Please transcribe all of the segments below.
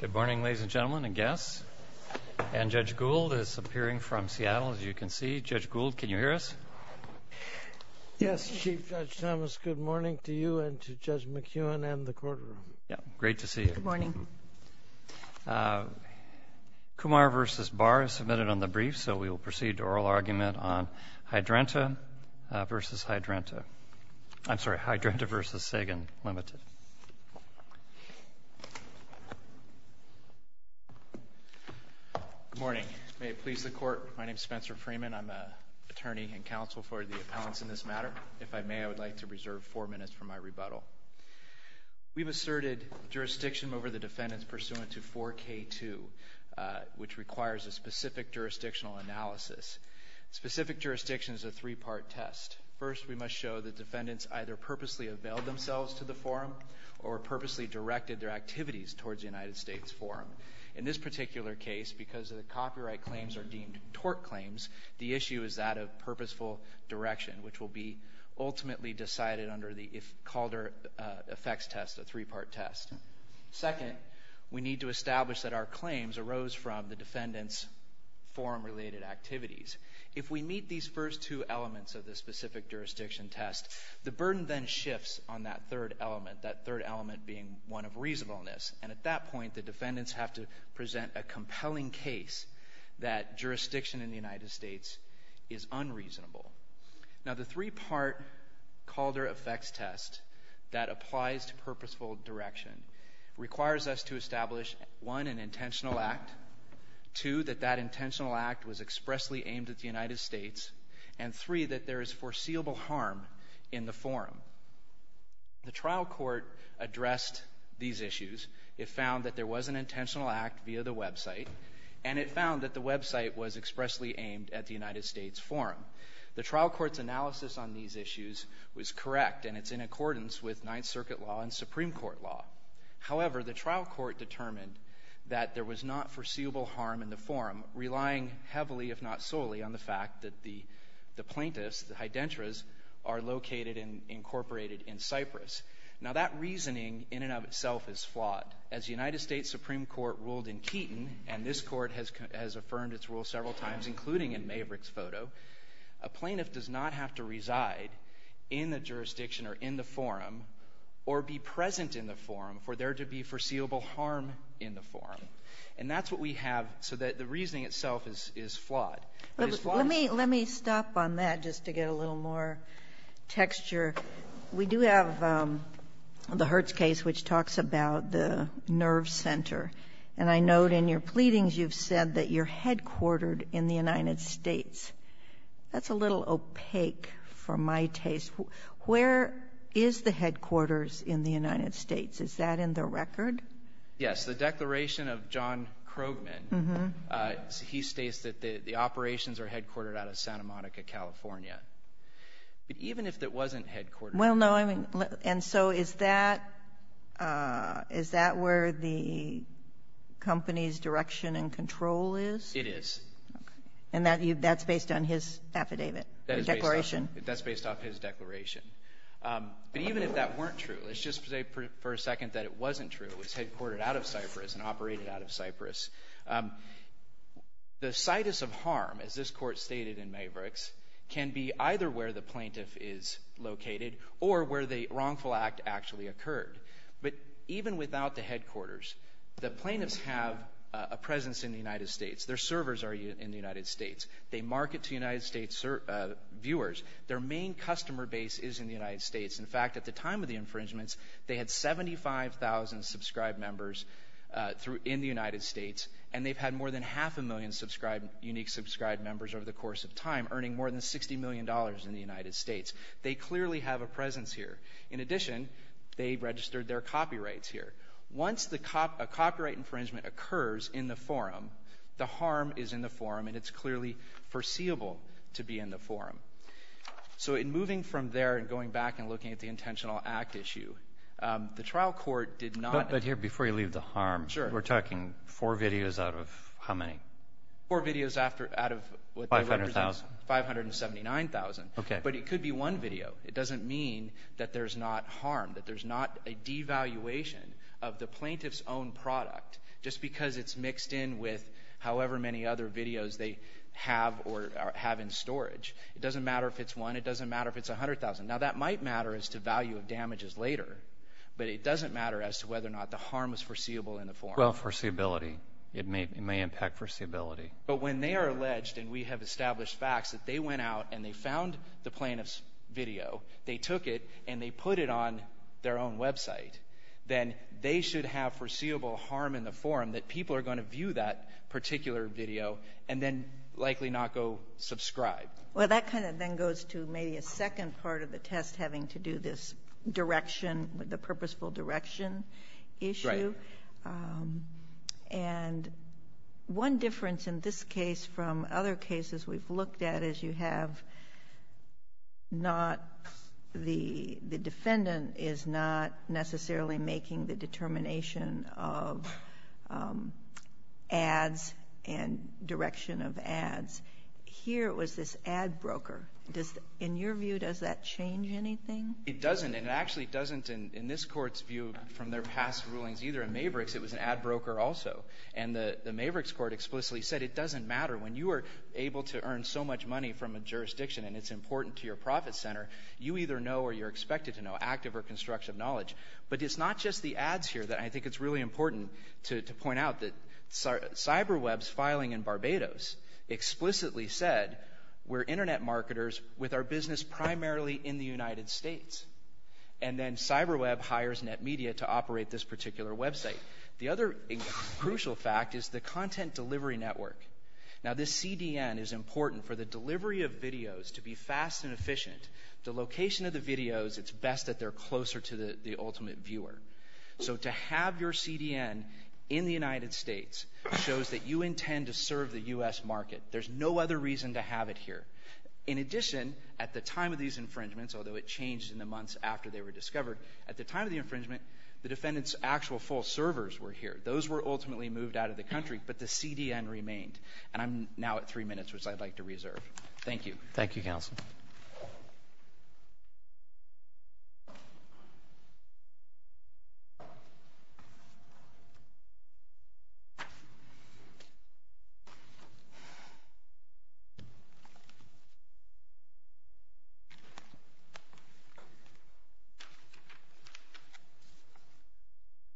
Good morning, ladies and gentlemen and guests. And Judge Gould is appearing from Seattle, as you can see. Judge Gould, can you hear us? Yes, Chief Judge Thomas. Good morning to you and to Judge McEwen and the courtroom. Great to see you. Good morning. Kumar v. Barr is submitted on the brief, so we will proceed to oral argument on Hydrenta v. Sagan Limited. Good morning. May it please the Court, my name is Spencer Freeman. I am an attorney and counsel for the appellants in this matter. If I may, I would like to reserve four minutes for my rebuttal. We have asserted jurisdiction over the defendants pursuant to 4K2, which requires a specific three-part test. First, we must show the defendants either purposely availed themselves to the forum or purposely directed their activities towards the United States forum. In this particular case, because the copyright claims are deemed tort claims, the issue is that of purposeful direction, which will be ultimately decided under the Calder effects test, a three-part test. Second, we need to establish that our claims arose from the defendants' forum-related activities. If we meet these first two elements of the specific jurisdiction test, the burden then shifts on that third element, that third element being one of reasonableness. And at that point, the defendants have to present a compelling case that jurisdiction in the United States is unreasonable. Now the three-part Calder effects test that applies to purposeful direction requires us to establish, one, an intentional act, two, that that intentional act was expressly aimed at the United States, and three, that there is foreseeable harm in the forum. The trial court addressed these issues. It found that there was an intentional act via the website, and it found that the website was expressly aimed at the United States forum. The trial court's analysis on these issues was correct, and it's in accordance with The trial court determined that there was not foreseeable harm in the forum, relying heavily, if not solely, on the fact that the plaintiffs, the hydentoras, are located and incorporated in Cyprus. Now that reasoning in and of itself is flawed. As the United States Supreme Court ruled in Keaton, and this Court has affirmed its rule several times, including in Maverick's photo, a plaintiff does not have to reside in the jurisdiction or in the forum or be present in the forum for there to be foreseeable harm in the forum. And that's what we have, so that the reasoning itself is flawed. But it's flawed. Kagan. Let me stop on that just to get a little more texture. We do have the Hertz case, which talks about the nerve center. And I note in your pleadings, you've said that you're headquartered in the United States. That's a little opaque for my taste. Where is the headquarters in the United States? Is that in the record? Yes. The declaration of John Krogman, he states that the operations are headquartered out of Santa Monica, California. But even if it wasn't headquartered… Well, no. I mean, and so is that – is that where the company's direction and control is? It is. Okay. And that's based on his affidavit, the declaration? That's based off his declaration. But even if that weren't true – let's just say for a second that it wasn't true, it was headquartered out of Cyprus and operated out of Cyprus – the situs of harm, as this Court stated in Mavericks, can be either where the plaintiff is located or where the wrongful act actually occurred. But even without the headquarters, the plaintiffs have a presence in the United States. Their servers are in the United States. They market to United States viewers. Their main customer base is in the United States. In fact, at the time of the infringements, they had 75,000 subscribed members in the United States, and they've had more than half a million unique subscribed members over the course of time, earning more than $60 million in the United States. They clearly have a presence here. In addition, they registered their copyrights here. Once a copyright infringement occurs in the forum, the harm is in the forum, and it's clearly foreseeable to be in the forum. So in moving from there and going back and looking at the intentional act issue, the trial court did not – But here, before you leave the harm – Sure. We're talking four videos out of how many? Four videos out of what they represent. Five hundred thousand. Five hundred and seventy-nine thousand. Okay. But it could be one video. It doesn't mean that there's not harm, that there's not a devaluation of the plaintiff's own product just because it's mixed in with however many other videos they have or have in storage. It doesn't matter if it's one. It doesn't matter if it's a hundred thousand. Now, that might matter as to value of damages later, but it doesn't matter as to whether or not the harm is foreseeable in the forum. Well, foreseeability. It may impact foreseeability. But when they are alleged, and we have established facts, that they went out and they found the plaintiff's video, they took it, and they put it on their own website, then they should have foreseeable harm in the forum that people are going to then likely not go subscribe. Well, that kind of then goes to maybe a second part of the test having to do this direction, the purposeful direction issue. Right. And one difference in this case from other cases we've looked at is you have not the defendant is not necessarily making the determination of ads and direction of ads. Here it was this ad broker. Does the — in your view, does that change anything? It doesn't. And it actually doesn't in this Court's view from their past rulings either. In Mavericks, it was an ad broker also. And the Mavericks court explicitly said it doesn't matter. When you are able to earn so much money from a jurisdiction, and it's important to your profit center, you either know or you're expected to know active or constructive knowledge. But it's not just the ads here that I think it's really important to point out that CyberWeb's filing in Barbados explicitly said we're internet marketers with our business primarily in the United States. And then CyberWeb hires NetMedia to operate this particular website. The other crucial fact is the content delivery network. Now, this CDN is important for the delivery of videos to be fast and efficient. The location of the videos, it's best that they're closer to the ultimate viewer. So to have your CDN in the United States shows that you intend to serve the U.S. market. There's no other reason to have it here. In addition, at the time of these infringements, although it changed in the months after they were discovered, at the time of the infringement, the defendant's actual full servers were here. Those were ultimately moved out of the country, but the CDN remained. And I'm now at three minutes, which I'd like to reserve. Thank you. Thank you, counsel.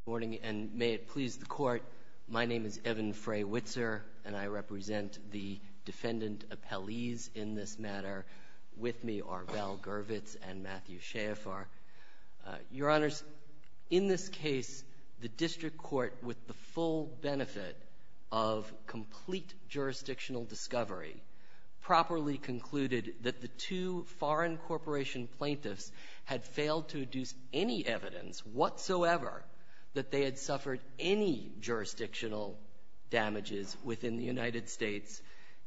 Good morning, and may it please the court, my name is Evan Fray-Witzer, and I represent the defendant appellees in this matter. With me are Val Gervitz and Matthew Schaeffer. Your honors, in this case, the district court, with the full benefit of complete jurisdictional discovery, properly concluded that the two foreign corporation plaintiffs had failed to deduce any evidence whatsoever that they had suffered any jurisdictional damages within the United States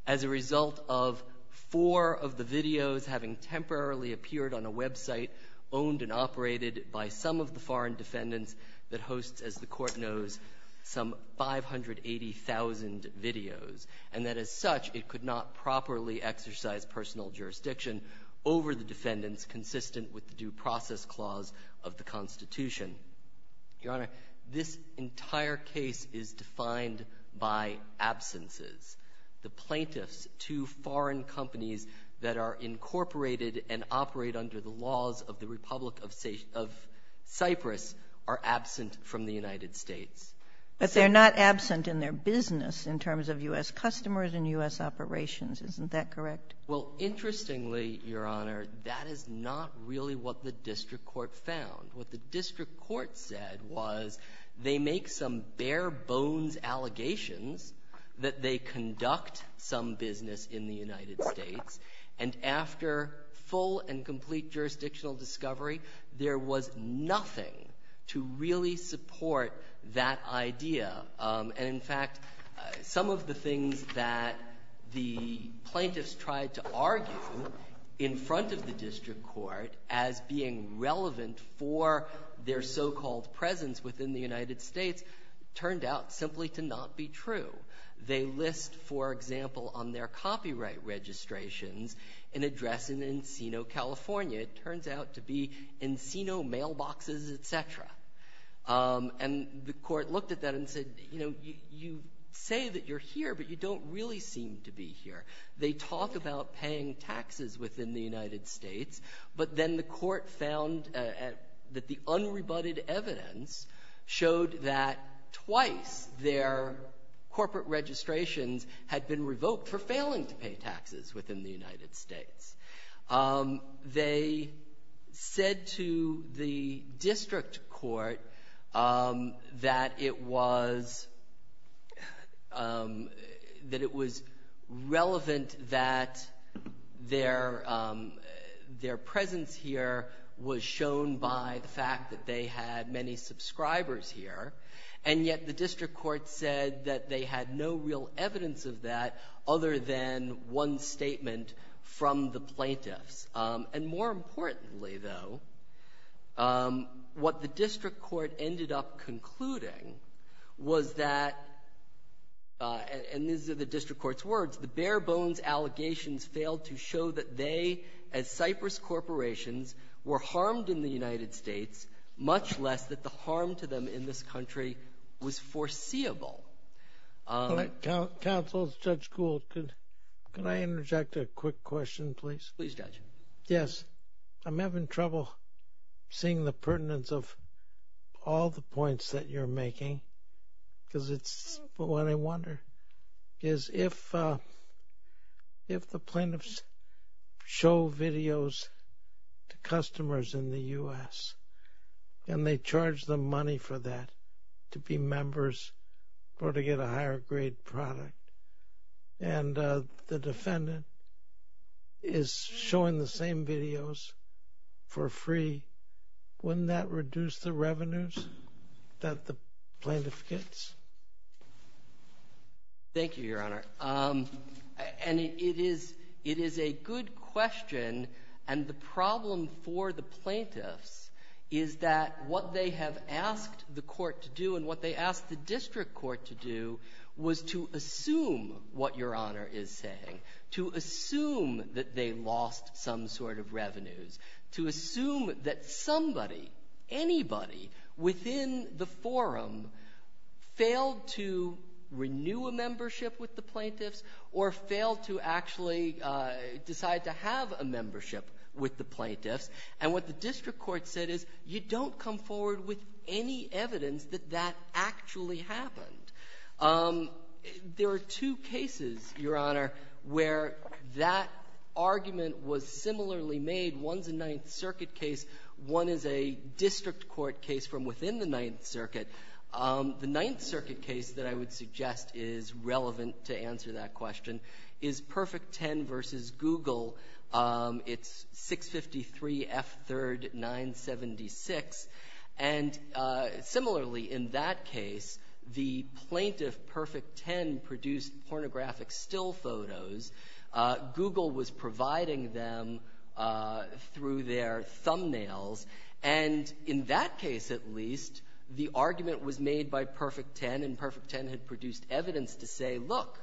as a result of four of the videos having temporarily appeared on a website owned and operated by some of the foreign defendants that hosts, as the Court knows, some 580,000 videos, and that, as such, it could not properly exercise personal jurisdiction over the defendants consistent with the Due Process Clause of the Constitution. Your Honor, this entire case is defined by absences. The plaintiffs, two foreign companies that are incorporated and operate under the laws of the Republic of Cyprus, are absent from the United States. But they're not absent in their business in terms of U.S. customers and U.S. operations. Isn't that correct? Well, interestingly, Your Honor, that is not really what the district court found. What the district court said was they make some bare-bones allegations that they conduct some business in the United States, and after full and complete jurisdictional discovery, there was nothing to really support that idea. And, in fact, some of the things that the plaintiffs tried to argue in front of the court were their so-called presence within the United States turned out simply to not be true. They list, for example, on their copyright registrations an address in Encino, California. It turns out to be Encino Mailboxes, et cetera. And the court looked at that and said, you know, you say that you're here, but you don't really seem to be here. They talk about paying taxes within the United States, but then the court found that the unrebutted evidence showed that twice their corporate registrations had been revoked for failing to pay taxes within the United States. They said to the district court that it was — that it was relevant to the fact that it was relevant that their — their presence here was shown by the fact that they had many subscribers here, and yet the district court said that they had no real evidence of that other than one statement from the plaintiffs. And more importantly, though, what the district court ended up concluding was that — and these are the district court's words — the bare-bones allegations failed to show that they, as Cypress Corporations, were harmed in the United States, much less that the harm to them in this country was foreseeable. Counsel, Judge Gould, could I interject a quick question, please? Please, Judge. Yes. I'm having trouble seeing the pertinence of all the points that you're making, because it's — what I wonder is if — if the plaintiffs show videos to customers in the U.S. and they charge them money for that, to be members or to get a higher-grade product, and the defendant is showing the same videos for free, wouldn't that reduce the revenues that the plaintiff gets? Thank you, Your Honor. And it is — it is a good question. And the problem for the plaintiffs is that what they have asked the court to do and what they asked the district court to do was to assume what Your Honor is saying, to assume that they lost some sort of revenues, to assume that somebody, anybody within the forum failed to renew a membership with the plaintiffs or failed to actually decide to have a membership with the plaintiffs. And what the district court said is you don't come forward with any evidence that that actually happened. There are two cases, Your Honor, where that argument was similarly made. One's a Ninth Circuit case. One is a district court case from within the Ninth Circuit. The Ninth Circuit case that I would suggest is relevant to answer that question is Perfect Ten v. Google. It's 653 F. 3rd 976. And similarly, in that case, the plaintiff, Perfect Ten, produced pornographic still photos. Google was providing them through their thumbnails. And in that case, at least, the argument was made by Perfect Ten, and Perfect Ten had produced evidence to say, look,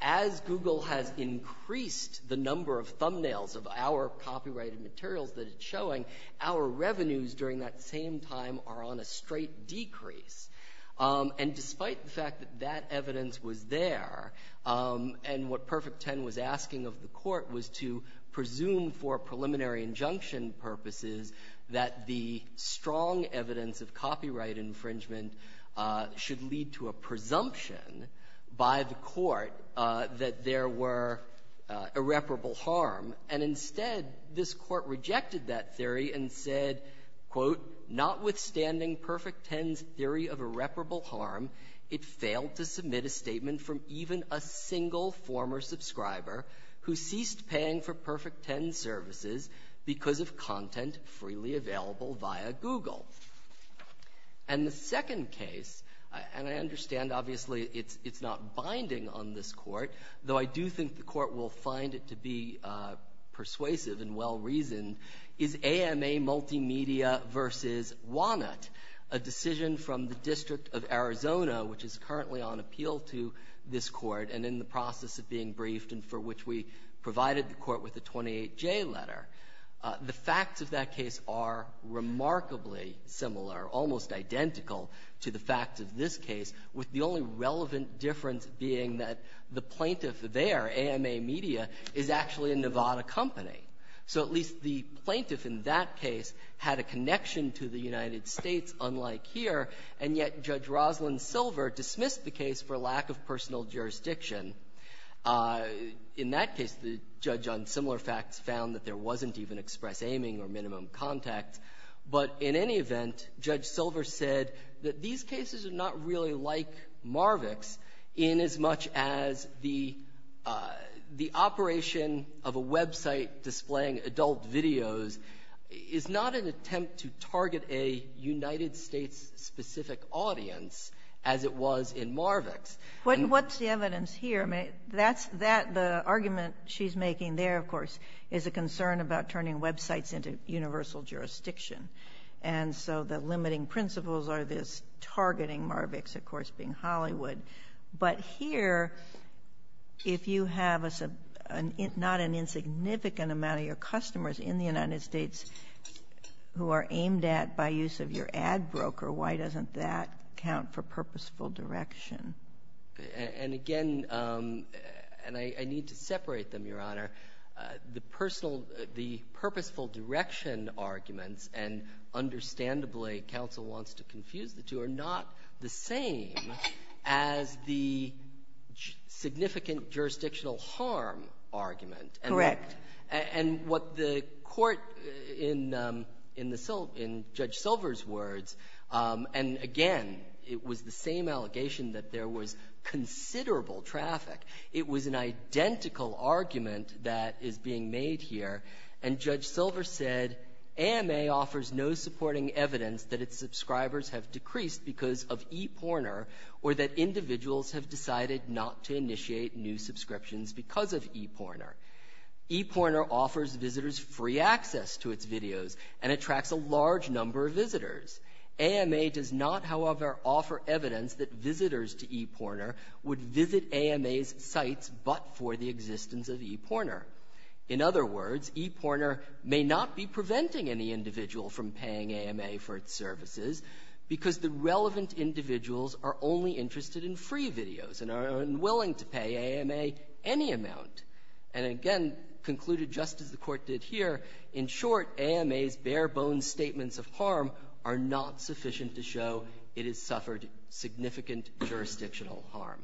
as Google has increased the number of thumbnails of our copyrighted a straight decrease. And despite the fact that that evidence was there, and what Perfect Ten was asking of the Court was to presume for preliminary injunction purposes that the strong evidence of copyright infringement should lead to a presumption by the Court that there were irreparable harm. And instead, this Court rejected that theory and said, quote, notwithstanding Perfect Ten's theory of irreparable harm, it failed to submit a statement from even a single former subscriber who ceased paying for Perfect Ten's services because of content freely available via Google. And the second case, and I understand, obviously, it's not binding on this Court, though I do think the Court will find it to be persuasive and well-reasoned, is AMA Multimedia v. Wannett, a decision from the District of Arizona, which is currently on appeal to this Court and in the process of being briefed and for which we provided the Court with a 28J letter. The facts of that case are remarkably similar, almost identical, to the facts of this case, with the only relevant difference being that the plaintiff there, AMA Media, is actually a Nevada company. So at least the plaintiff in that case had a connection to the United States, unlike here, and yet Judge Roslyn Silver dismissed the case for lack of personal jurisdiction. In that case, the judge on similar facts found that there wasn't even express aiming or minimum contact. But in any event, Judge Silver said that these cases are not really like Marvick's in as much as the operation of a website displaying adult videos is not an attempt to target a United States-specific audience as it was in Marvick's. And what's the evidence here? I mean, that's that. And the argument she's making there, of course, is a concern about turning websites into universal jurisdiction. And so the limiting principles are this targeting Marvick's, of course, being Hollywood. But here, if you have not an insignificant amount of your customers in the United States who are aimed at by use of your ad broker, why doesn't that count for purposeful direction? And again, and I need to separate them, Your Honor, the personal, the purposeful direction arguments, and understandably, counsel wants to confuse the two, are not the same as the significant jurisdictional harm argument. Correct. And what the Court in Judge Silver's words, and again, it was the same allegation that there was considerable traffic. It was an identical argument that is being made here. And Judge Silver said, AMA offers no supporting evidence that its subscribers have decreased because of ePorner or that individuals have decided not to initiate new subscriptions because of ePorner. ePorner offers visitors free access to its videos and attracts a large number of visitors to ePorner would visit AMA's sites but for the existence of ePorner. In other words, ePorner may not be preventing any individual from paying AMA for its services because the relevant individuals are only interested in free videos and are unwilling to pay AMA any amount. And again, concluded just as the Court did here, in short, AMA's bare-bones statements of harm are not sufficient to show it has suffered significant jurisdictional harm.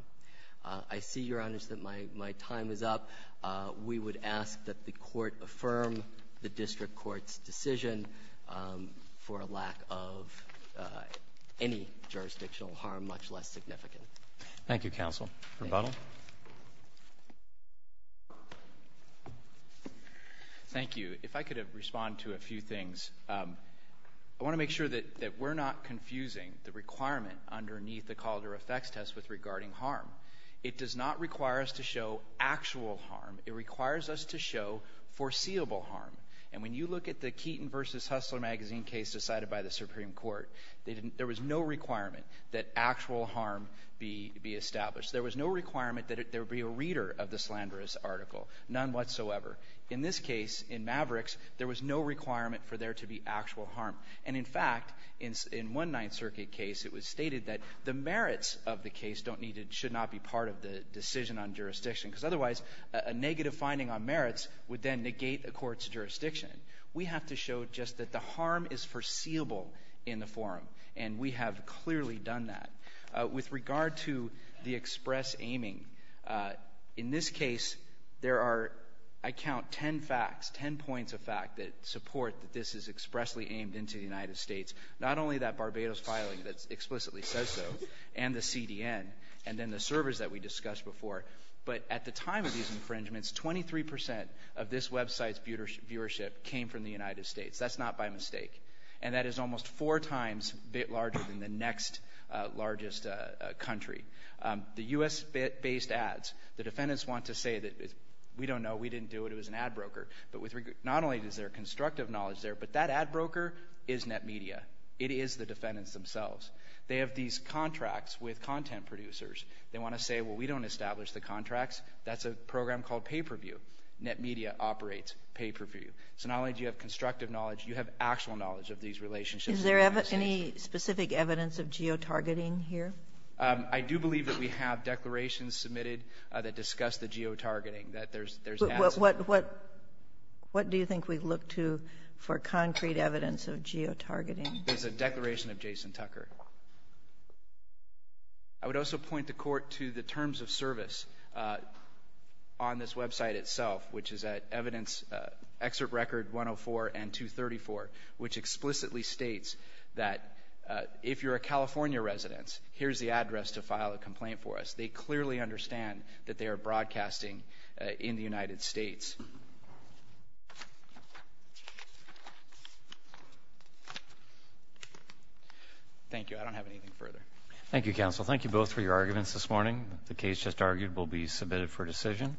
I see, Your Honors, that my time is up. We would ask that the Court affirm the district court's decision for a lack of any jurisdictional harm, much less significant. Thank you, counsel. Rebuttal. Thank you. If I could respond to a few things. I want to make sure that we're not confusing the requirement underneath the Calder effects test regarding harm. It does not require us to show actual harm. It requires us to show foreseeable harm. And when you look at the Keaton v. Hustler magazine case decided by the Supreme Court, there was no requirement that actual harm be established. There was no requirement that there be a reader of the slanderous article, none whatsoever. In this case, in Mavericks, there was no requirement for there to be actual harm. And in fact, in one Ninth Circuit case, it was stated that the merits of the case don't need to – should not be part of the decision on jurisdiction, because otherwise, a negative finding on merits would then negate a court's jurisdiction. We have to show just that the harm is foreseeable in the forum, and we have clearly done that. With regard to the express aiming, in this case, there are, I count, ten facts, ten points of fact that support that this is expressly aimed into the United States. Not only that Barbados filing that explicitly says so, and the CDN, and then the servers that we discussed before, but at the time of these infringements, 23 percent of this website's viewership came from the United States. That's not by mistake. And that is almost four times larger than the next largest country. The U.S.-based ads, the defendants want to say that we don't know, we didn't do it, it was an ad broker. But with – not only is there constructive knowledge there, but that ad broker is NetMedia. It is the defendants themselves. They have these contracts with content producers. They want to say, well, we don't establish the contracts. That's a program called Pay-Per-View. NetMedia operates Pay-Per-View. So not only do you have constructive knowledge, you have actual knowledge of these relationships in the United States. Is there any specific evidence of geotargeting here? I do believe that we have declarations submitted that discuss the geotargeting, that there's ads. What do you think we look to for concrete evidence of geotargeting? There's a declaration of Jason Tucker. I would also point the Court to the terms of service on this website itself, which is at evidence excerpt record 104 and 234, which explicitly states that if you're a California resident, here's the address to file a complaint for us. They clearly understand that they are broadcasting in the United States. Thank you. I don't have anything further. Thank you, counsel. Thank you both for your arguments this morning. The case just argued will be submitted for decision.